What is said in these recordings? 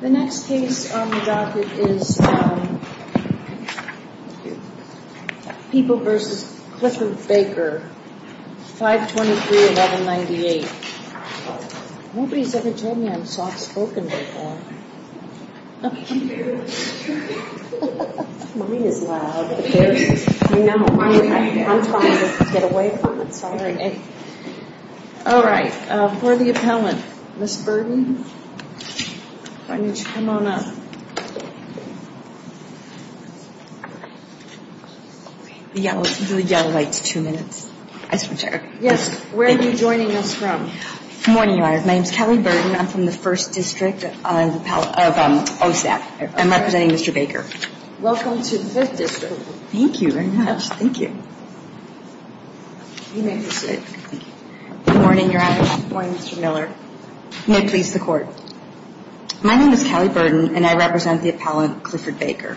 The next case on the docket is People v. Clifford Baker, 523-1198. Nobody's ever told me I'm soft-spoken before. Mine is loud. I know. I'm trying to get away from it. Sorry. All right. Who are the appellants? Ms. Burden? Why don't you come on up? The yellow light's two minutes. Yes. Where are you joining us from? Good morning, Your Honor. My name's Kelly Burden. I'm from the 1st District of OSAP. I'm representing Mr. Baker. Welcome to the 5th District. Thank you very much. Thank you. You may proceed. Good morning, Your Honor. Good morning, Mr. Miller. You may please the Court. My name is Kelly Burden, and I represent the appellant, Clifford Baker.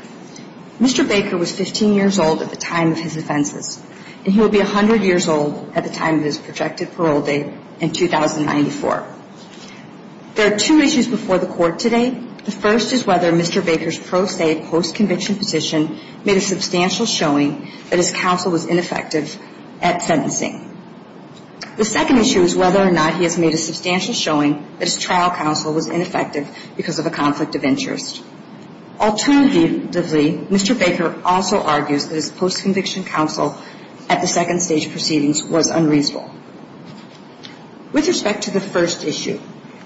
Mr. Baker was 15 years old at the time of his offenses, and he will be 100 years old at the time of his projected parole date in 2094. There are two issues before the Court today. The first is whether Mr. Baker's pro se, post-conviction position made a substantial showing that his counsel was ineffective at sentencing. The second issue is whether or not he has made a substantial showing that his trial counsel was ineffective because of a conflict of interest. Alternatively, Mr. Baker also argues that his post-conviction counsel at the second stage proceedings was unreasonable. With respect to the first issue,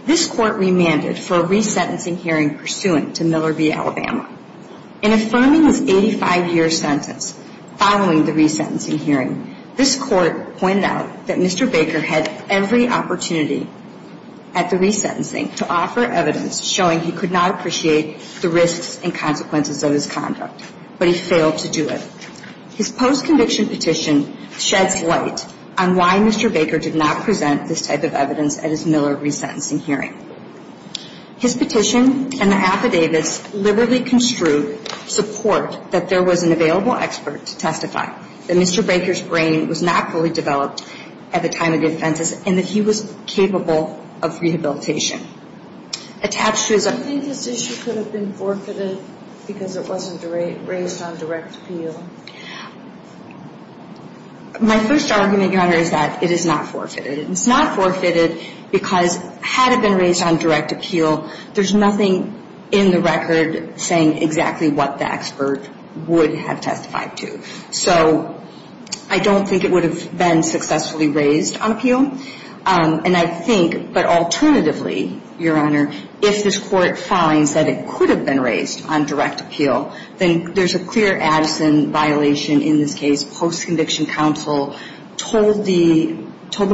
this Court remanded for a resentencing hearing pursuant to Miller v. Alabama. In affirming his 85-year sentence following the resentencing hearing, this Court pointed out that Mr. Baker had every opportunity at the resentencing to offer evidence showing he could not appreciate the risks and consequences of his conduct, but he failed to do it. His post-conviction petition sheds light on why Mr. Baker did not present this type of evidence at his Miller resentencing hearing. His petition and the affidavits liberally construed support that there was an available expert to testify that Mr. Baker's brain was not fully developed at the time of the offenses and that he was capable of rehabilitation. Attached to his argument is that this issue could have been forfeited because it wasn't raised on direct appeal. My first argument, Your Honor, is that it is not forfeited. It's not forfeited because had it been raised on direct appeal, there's nothing in the record saying exactly what the expert would have testified to. So I don't think it would have been successfully raised on appeal. And I think, but alternatively, Your Honor, if this Court finds that it could have been raised on direct appeal, then there's a clear Addison violation in this case. I think it's important to note that in this case, post-conviction counsel told the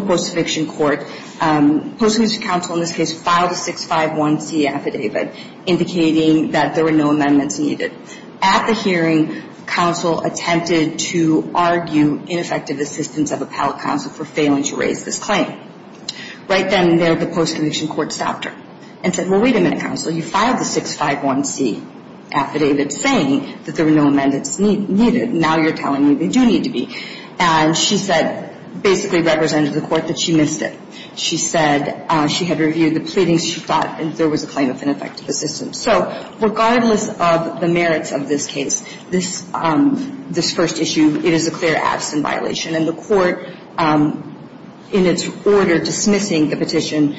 post-conviction court, post-conviction counsel in this case filed a 651C affidavit indicating that there were no amendments needed. At the hearing, counsel attempted to argue ineffective assistance of appellate counsel for failing to raise this claim. Right then and there, the post-conviction court stopped her and said, well, wait a minute, counsel. You filed the 651C affidavit saying that there were no amendments needed. Now you're telling me they do need to be. And she said, basically represented the Court that she missed it. She said she had reviewed the pleadings. She thought there was a claim of ineffective assistance. So regardless of the merits of this case, this first issue, it is a clear Addison violation. And the Court, in its order dismissing the petition,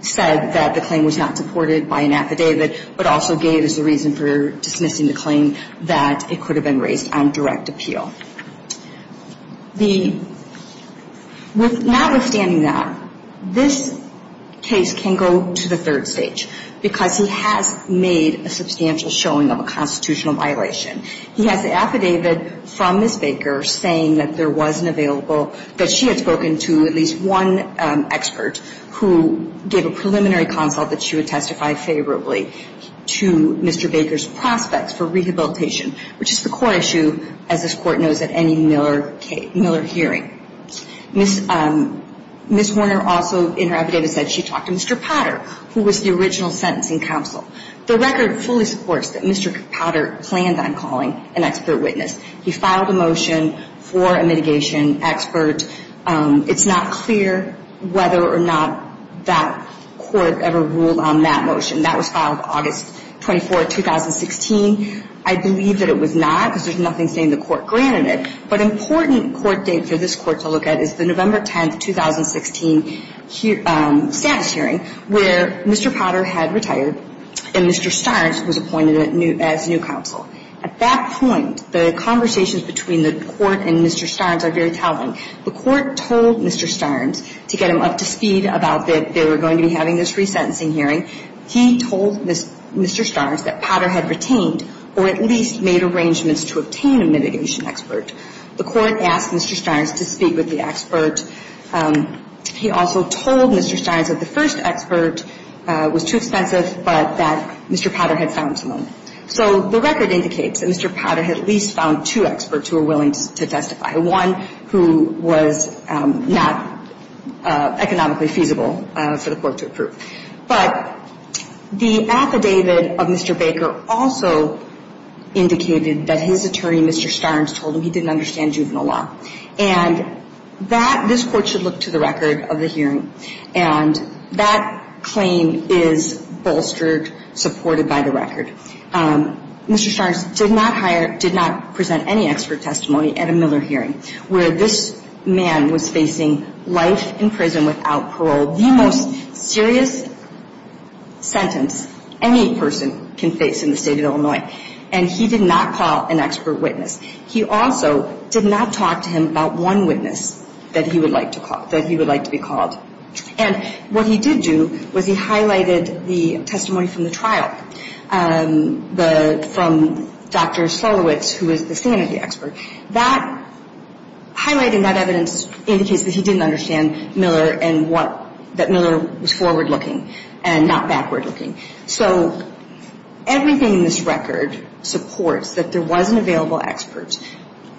said that the claim was not supported by an affidavit, but also gave as a reason for dismissing the claim that it could have been raised on direct appeal. Now, withstanding that, this case can go to the third stage, because he has made a substantial showing of a constitutional violation. He has the affidavit from Ms. Baker saying that there wasn't available, that she had spoken to at least one expert who gave a preliminary consult that she would testify favorably to Mr. Baker's prospects for rehabilitation, which is the core issue, as this Court knows, at any Miller hearing. Ms. Horner also, in her affidavit, said she talked to Mr. Potter, who was the original sentencing counsel. The record fully supports that Mr. Potter planned on calling an expert witness. He filed a motion for a mitigation expert. It's not clear whether or not that Court ever ruled on that motion. That was filed August 24, 2016. I believe that it was not, because there's nothing saying the Court granted it. But an important court date for this Court to look at is the November 10, 2016, status hearing, where Mr. Potter had retired and Mr. Starnes was appointed as new counsel. At that point, the conversations between the Court and Mr. Starnes are very telling. The Court told Mr. Starnes to get him up to speed about that they were going to be having this resentencing hearing. He told Mr. Starnes that Potter had retained or at least made arrangements to obtain a mitigation expert. The Court asked Mr. Starnes to speak with the expert. He also told Mr. Starnes that the first expert was too expensive, but that Mr. Potter had found someone. So the record indicates that Mr. Potter had at least found two experts who were willing to testify, one who was not economically feasible for the Court to approve. But the affidavit of Mr. Baker also indicated that his attorney, Mr. Starnes, told him he didn't understand juvenile law. And this Court should look to the record of the hearing. And that claim is bolstered, supported by the record. Mr. Starnes did not present any expert testimony at a Miller hearing, where this man was facing life in prison without parole, the most serious sentence any person can face in the state of Illinois. And he did not call an expert witness. He also did not talk to him about one witness that he would like to call, that he would like to be called. And what he did do was he highlighted the testimony from the trial from Dr. Solowicz, who was the sanity expert. That highlighting that evidence indicates that he didn't understand Miller and what that Miller was forward-looking and not backward-looking. So everything in this record supports that there was an available expert.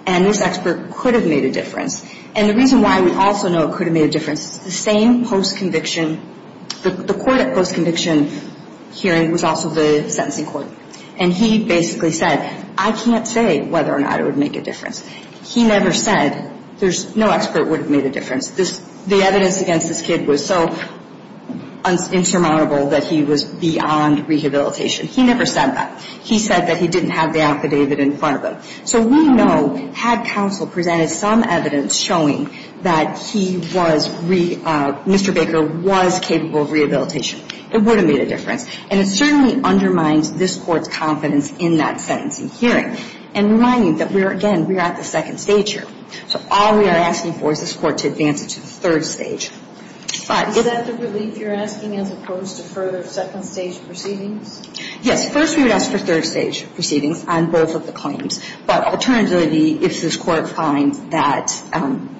And this expert could have made a difference. And the reason why we also know it could have made a difference is the same post-conviction – the court at post-conviction hearing was also the sentencing court. And he basically said, I can't say whether or not it would make a difference. He never said there's – no expert would have made a difference. This – the evidence against this kid was so insurmountable that he was beyond rehabilitation. He never said that. He said that he didn't have the affidavit in front of him. So we know, had counsel presented some evidence showing that he was – Mr. Baker was capable of rehabilitation, it would have made a difference. And it certainly undermines this Court's confidence in that sentencing hearing and reminding that we are – again, we are at the second stage here. So all we are asking for is this Court to advance it to the third stage. But if – Is that the relief you're asking as opposed to further second-stage proceedings? Yes. First, we would ask for third-stage proceedings on both of the claims. But alternatively, if this Court finds that –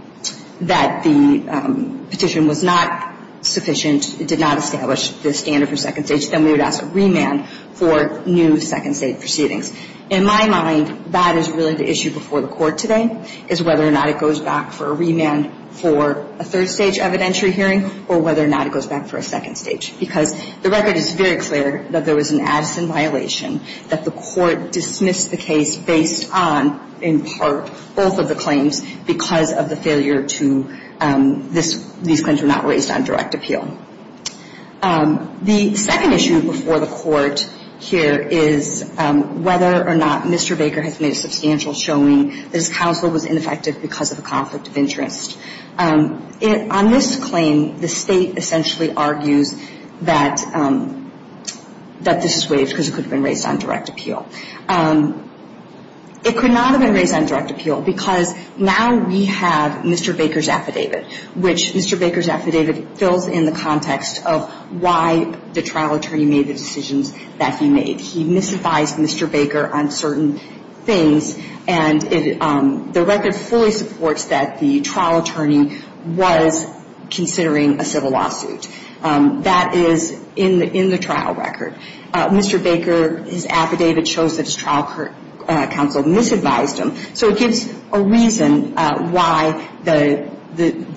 that the petition was not sufficient, it did not establish the standard for second stage, then we would ask a remand for new second-stage proceedings. In my mind, that is really the issue before the Court today, is whether or not it goes back for a remand for a third-stage evidentiary hearing or whether or not it goes back for a second stage. Because the record is very clear that there was an Addison violation, that the Court dismissed the case based on, in part, both of the claims because of the failure to – these claims were not raised on direct appeal. The second issue before the Court here is whether or not Mr. Baker has made a substantial showing that his counsel was ineffective because of a conflict of interest. On this claim, the State essentially argues that – that this is waived because it could have been raised on direct appeal. It could not have been raised on direct appeal because now we have Mr. Baker's affidavit that fills in the context of why the trial attorney made the decisions that he made. He misadvised Mr. Baker on certain things, and the record fully supports that the trial attorney was considering a civil lawsuit. That is in the trial record. Mr. Baker, his affidavit shows that his trial counsel misadvised him. So it gives a reason why the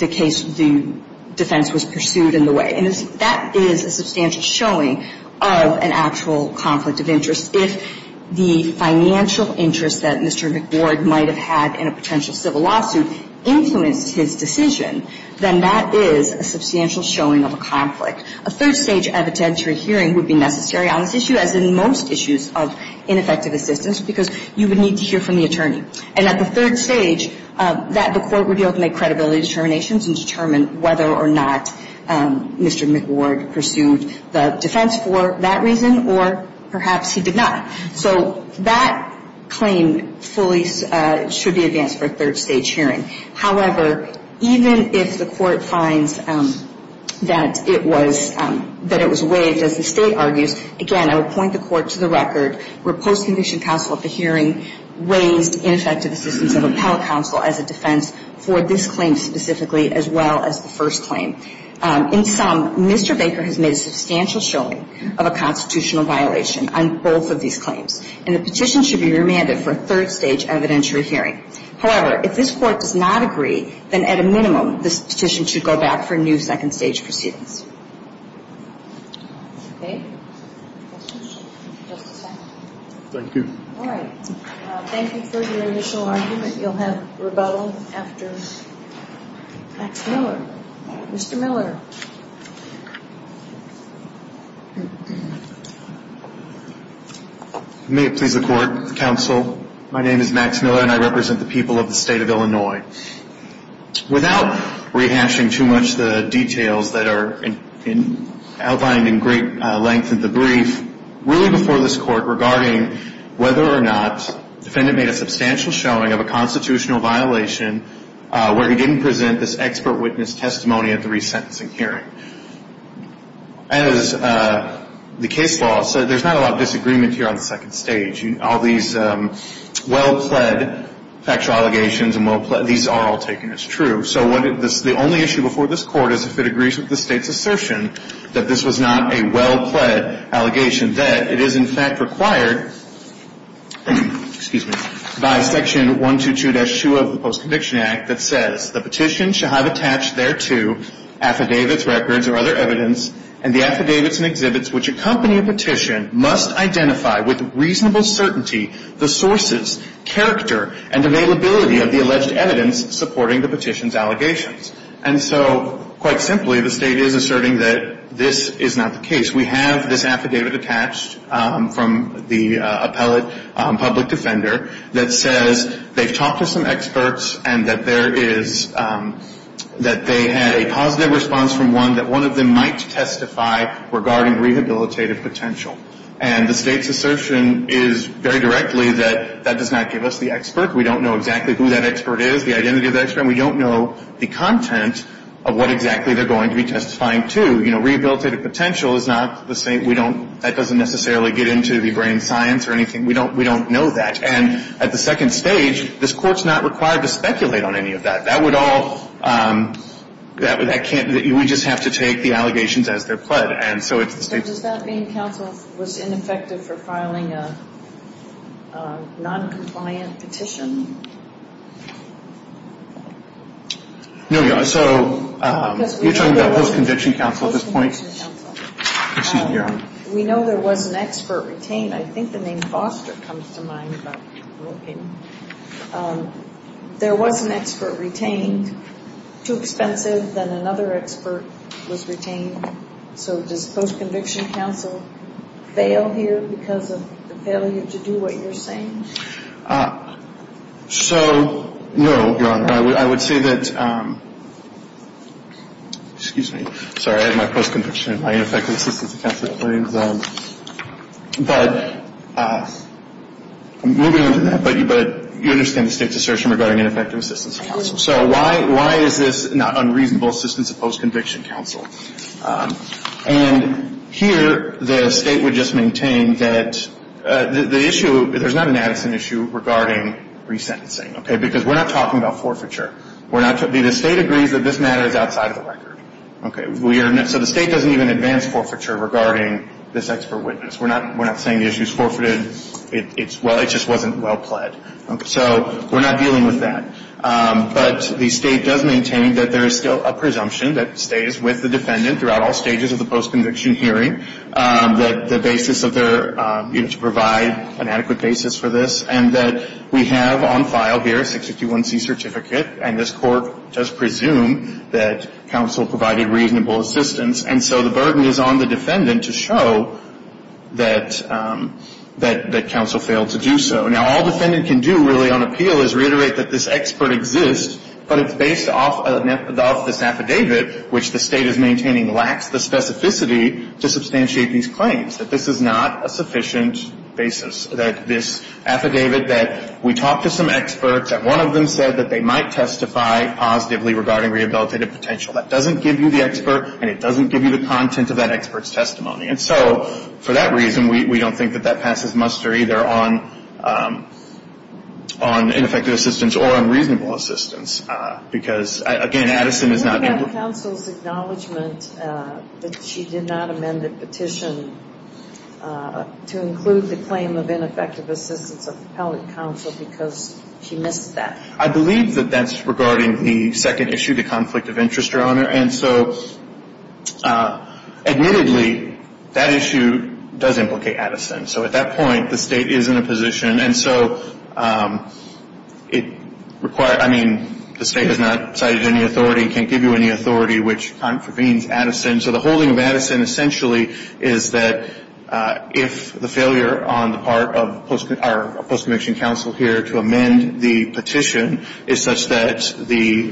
case, the defense was pursued in the way. And that is a substantial showing of an actual conflict of interest. If the financial interest that Mr. McBoard might have had in a potential civil lawsuit influenced his decision, then that is a substantial showing of a conflict. A third stage evidentiary hearing would be necessary on this issue, as in most issues of ineffective assistance, because you would need to hear from the attorney. And at the third stage, the court would be able to make credibility determinations and determine whether or not Mr. McBoard pursued the defense for that reason or perhaps he did not. So that claim fully should be advanced for a third stage hearing. However, even if the court finds that it was – that it was waived, as the State Court argues, again, I would point the court to the record where post-conviction counsel at the hearing raised ineffective assistance of appellate counsel as a defense for this claim specifically as well as the first claim. In sum, Mr. Baker has made a substantial showing of a constitutional violation on both of these claims. And the petition should be remanded for a third stage evidentiary hearing. However, if this Court does not agree, then at a minimum, this petition should go back for a new second stage proceedings. Okay? Questions? Just a second. Thank you. All right. Thank you for your initial argument. You'll have rebuttal after Max Miller. Mr. Miller. May it please the Court, counsel. My name is Max Miller, and I represent the people of the State of Illinois. Without rehashing too much the details that are outlined in great length in the brief, really before this Court regarding whether or not the defendant made a substantial showing of a constitutional violation where he didn't present this expert witness testimony at the resentencing hearing. As the case law said, there's not a lot of disagreement here on the second stage. All these well-pled factual allegations and well-pled, these are all taken as true. So the only issue before this Court is if it agrees with the State's assertion that this was not a well-pled allegation, that it is in fact required, excuse me, by Section 122-2 of the Post-Conviction Act that says, the petition shall have attached thereto affidavits, records, or other evidence, and the affidavits and exhibits which accompany a petition must identify with reasonable certainty the sources, character, and availability of the alleged evidence supporting the petition's allegations. And so, quite simply, the State is asserting that this is not the case. We have this affidavit attached from the appellate public defender that says they've talked to some experts and that there is, that they had a positive response from one, that one of them might testify regarding rehabilitative potential. And the State's assertion is very directly that that does not give us the expert. We don't know exactly who that expert is, the identity of that expert, and we don't know the content of what exactly they're going to be testifying to. You know, rehabilitative potential is not the same. We don't, that doesn't necessarily get into the brain science or anything. We don't know that. And at the second stage, this Court's not required to speculate on any of that. That would all, that can't, we just have to take the allegations as they're pled. And so it's the State's. So does that mean counsel was ineffective for filing a noncompliant petition? No. So you're talking about post-conviction counsel at this point? Post-conviction counsel. Excuse me, Your Honor. We know there was an expert retained. I think the name Foster comes to mind, but okay. There was an expert retained. Too expensive, then another expert was retained. So does post-conviction counsel fail here because of the failure to do what you're saying? So, no, Your Honor. I would say that, excuse me, sorry, I had my post-conviction, my ineffective assistance account that I put in. But moving on from that, but you understand the State's assertion regarding ineffective assistance of counsel. So why is this not unreasonable assistance of post-conviction counsel? And here the State would just maintain that the issue, there's not an Addison issue regarding resentencing, okay, because we're not talking about forfeiture. The State agrees that this matter is outside of the record. Okay. So the State doesn't even advance forfeiture regarding this expert witness. We're not saying the issue is forfeited. It just wasn't well pled. So we're not dealing with that. But the State does maintain that there is still a presumption that stays with the defendant throughout all stages of the post-conviction hearing, that the basis of their, you know, to provide an adequate basis for this, and that we have on file here a 651C certificate, and this Court does presume that counsel provided reasonable assistance. And so the burden is on the defendant to show that counsel failed to do so. Now, all defendant can do really on appeal is reiterate that this expert exists, but it's based off of this affidavit, which the State is maintaining lacks the specificity to substantiate these claims, that this is not a sufficient basis, that this affidavit, that we talked to some experts, and one of them said that they might testify positively regarding rehabilitative potential. That doesn't give you the expert, and it doesn't give you the content of that expert's testimony. And so for that reason, we don't think that that passes muster either on ineffective assistance or on reasonable assistance, because, again, Addison is not able to. Counsel's acknowledgment that she did not amend the petition to include the claim of ineffective assistance of appellate counsel because she missed that. I believe that that's regarding the second issue, the conflict of interest, Your Honor. And so admittedly, that issue does implicate Addison. So at that point, the State is in a position. And so it requires, I mean, the State has not cited any authority, can't give you any authority, which contravenes Addison. So the holding of Addison essentially is that if the failure on the part of our post-conviction counsel here to amend the petition is such that the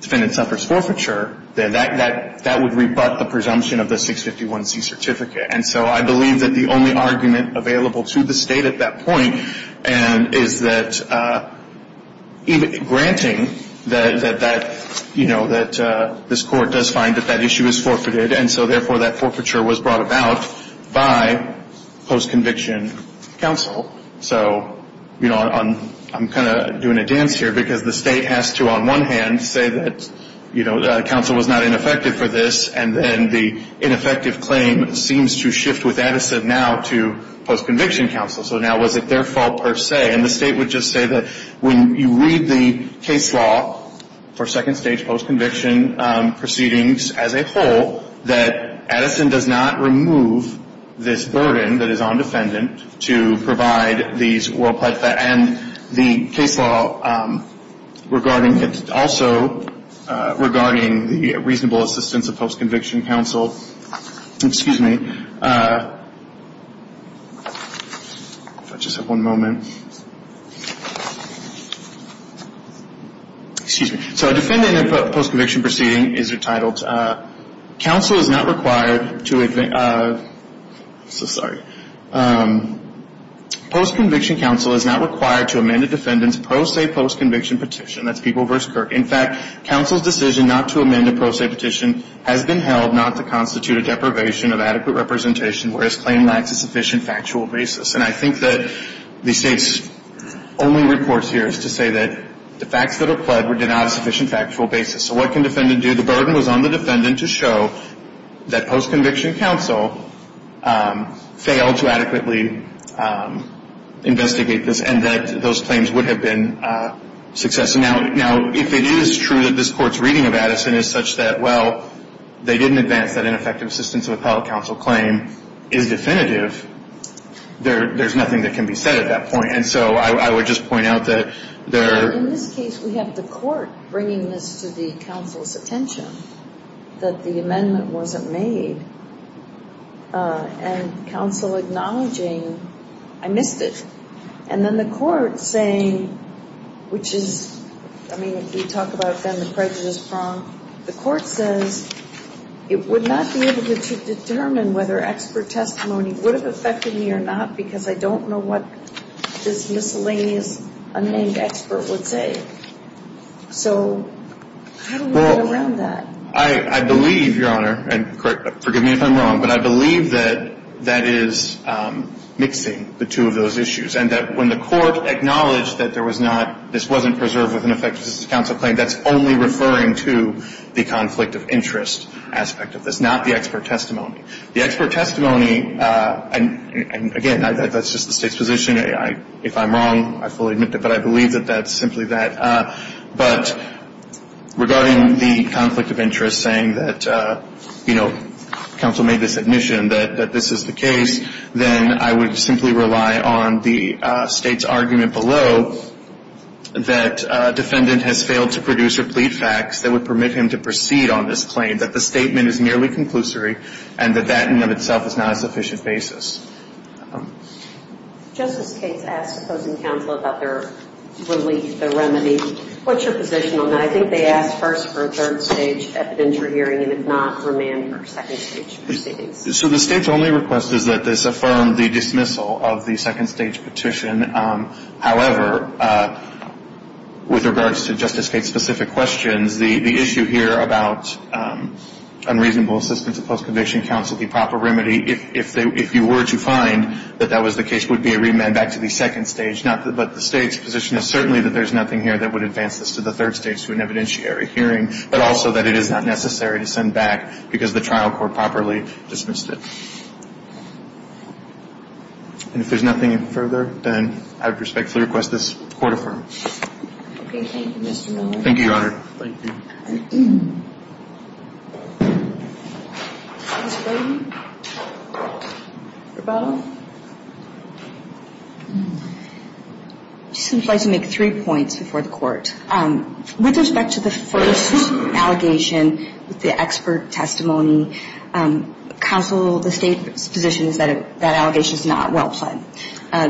defendant suffers forfeiture, then that would rebut the presumption of the 651C certificate. And so I believe that the only argument available to the State at that point is that granting that, you know, that this Court does find that that issue is forfeited, and so therefore that forfeiture was brought about by post-conviction counsel. So, you know, I'm kind of doing a dance here because the State has to, on one hand, say that, you know, counsel was not ineffective for this, and then the ineffective claim seems to shift with Addison now to post-conviction counsel. So now was it their fault per se? And the State would just say that when you read the case law for second-stage post-conviction proceedings as a whole, that Addison does not remove this burden that is on defendant to provide these well-placed facts. And the case law regarding, also regarding the reasonable assistance of post-conviction counsel, excuse me. If I just have one moment. Excuse me. So a defendant in a post-conviction proceeding is entitled, counsel is not required to, sorry. Post-conviction counsel is not required to amend a defendant's pro se post-conviction petition. That's People v. Kirk. In fact, counsel's decision not to amend a pro se petition has been held not to constitute a deprivation of adequate representation, whereas claim lacks a sufficient factual basis. And I think that the State's only report here is to say that the facts that are pled were denied a sufficient factual basis. So what can defendant do? The burden was on the defendant to show that post-conviction counsel failed to adequately investigate this and that those claims would have been successful. Now, if it is true that this Court's reading of Addison is such that, well, they didn't advance that ineffective assistance of appellate counsel claim is definitive, there's nothing that can be said at that point. And so I would just point out that there are. In this case, we have the Court bringing this to the counsel's attention that the amendment wasn't made and counsel acknowledging, I missed it. And then the Court saying, which is, I mean, if we talk about then the prejudice prong, the Court says it would not be able to determine whether expert testimony would have affected me or not because I don't know what this miscellaneous unnamed expert would say. So how do we get around that? Well, I believe, Your Honor, and forgive me if I'm wrong, but I believe that that is mixing the two of those issues and that when the Court acknowledged that there was not, this wasn't preserved with an effective assistance of counsel claim, that's only referring to the conflict of interest aspect of this, not the expert testimony. The expert testimony, and again, that's just the State's position. If I'm wrong, I fully admit that. But I believe that that's simply that. But regarding the conflict of interest saying that, you know, counsel made this admission that this is the case, then I would simply rely on the State's argument below that defendant has failed to produce or plead facts that would permit him to proceed on this claim, that the statement is merely conclusory and that that in and of itself is not a sufficient basis. Justice Gates asked opposing counsel about their relief, their remedy. What's your position on that? I think they asked first for a third-stage evidentiary hearing and, if not, remand for second-stage proceedings. So the State's only request is that this affirm the dismissal of the second-stage petition. However, with regards to Justice Gates' specific questions, the issue here about unreasonable assistance of post-conviction counsel, the proper remedy, if you were to find that that was the case, would be a remand back to the second stage. But the State's position is certainly that there's nothing here that would advance this to the third stage through an evidentiary hearing, but also that it is not necessary to send back because the trial court properly dismissed it. And if there's nothing further, then I would respectfully request this court affirm. Okay. Thank you, Mr. Miller. Thank you, Your Honor. Thank you. Ms. Brayden, rebuttal. I'd just like to make three points before the court. With respect to the first allegation, with the expert testimony, counsel, the State's position is that that allegation is not well pled.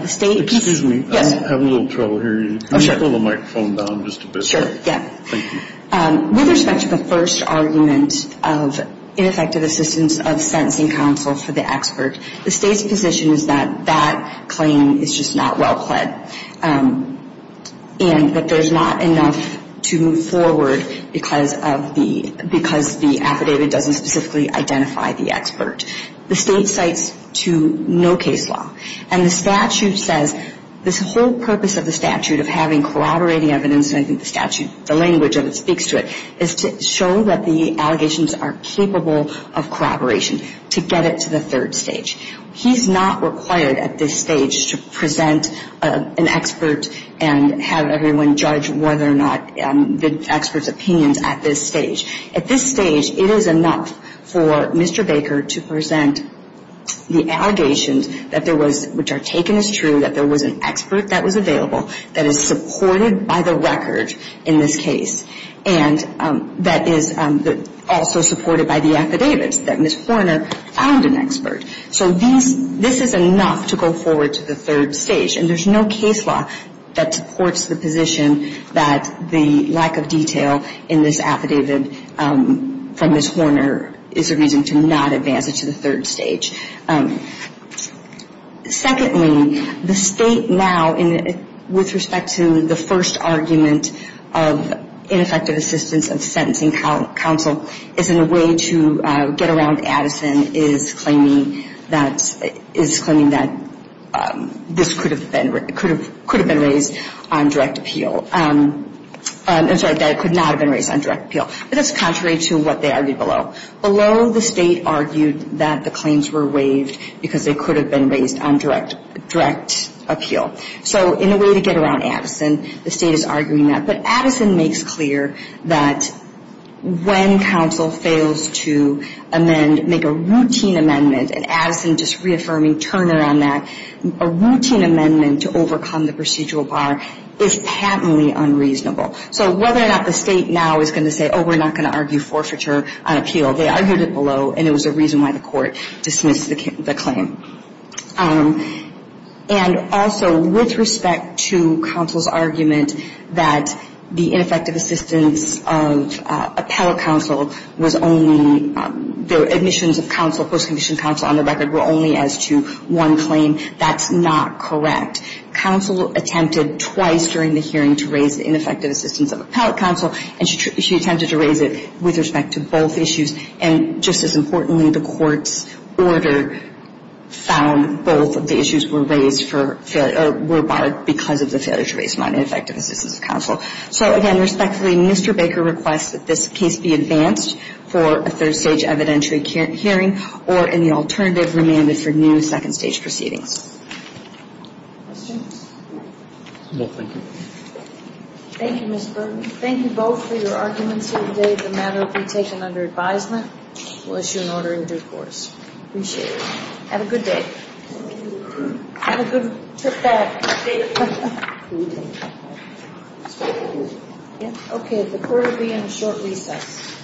Excuse me. I have a little trouble hearing you. Can you pull the microphone down just a bit? Thank you. With respect to the first argument of ineffective assistance of sentencing counsel for the expert, the State's position is that that claim is just not well pled and that there's not enough to move forward because the affidavit doesn't specifically identify the expert. The State cites to no case law. And the statute says this whole purpose of the statute of having corroborating evidence, and I think the statute, the language of it speaks to it, is to show that the allegations are capable of corroboration to get it to the third stage. He's not required at this stage to present an expert and have everyone judge whether or not the expert's opinions at this stage. At this stage, it is enough for Mr. Baker to present the allegations that there was, which are taken as true, that there was an expert that was available, that is supported by the record in this case, and that is also supported by the affidavits that Ms. Forner found an expert. So this is enough to go forward to the third stage. And there's no case law that supports the position that the lack of detail in this affidavit from Ms. Forner is a reason to not advance it to the third stage. Secondly, the State now, with respect to the first argument of ineffective assistance of sentencing counsel, is in a way to get around Addison is claiming that this could have been raised on direct appeal. I'm sorry, that it could not have been raised on direct appeal. But that's contrary to what they argued below. Below, the State argued that the claims were waived because they could have been raised on direct appeal. So in a way to get around Addison, the State is arguing that. But Addison makes clear that when counsel fails to amend, make a routine amendment, and Addison just reaffirming Turner on that, a routine amendment to overcome the procedural bar is patently unreasonable. So whether or not the State now is going to say, oh, we're not going to argue forfeiture on appeal, they argued it below, and it was a reason why the court dismissed the claim. And also, with respect to counsel's argument that the ineffective assistance of appellate counsel was only the admissions of counsel, post-condition counsel on the record, were only as to one claim, that's not correct. Counsel attempted twice during the hearing to raise the ineffective assistance of appellate counsel, and she attempted to raise it with respect to both issues. And just as importantly, the court's order found both of the issues were raised for failure or were barred because of the failure to raise non-ineffective assistance of counsel. So, again, respectfully, Mr. Baker requests that this case be advanced for a third-stage evidentiary hearing or, in the alternative, remanded for new second-stage proceedings. Questions? No, thank you. Thank you, Ms. Burton. Thank you both for your arguments here today. The matter will be taken under advisement. We'll issue an order in due course. Appreciate it. Have a good day. Have a good trip back. Okay, the court will be in a short recess.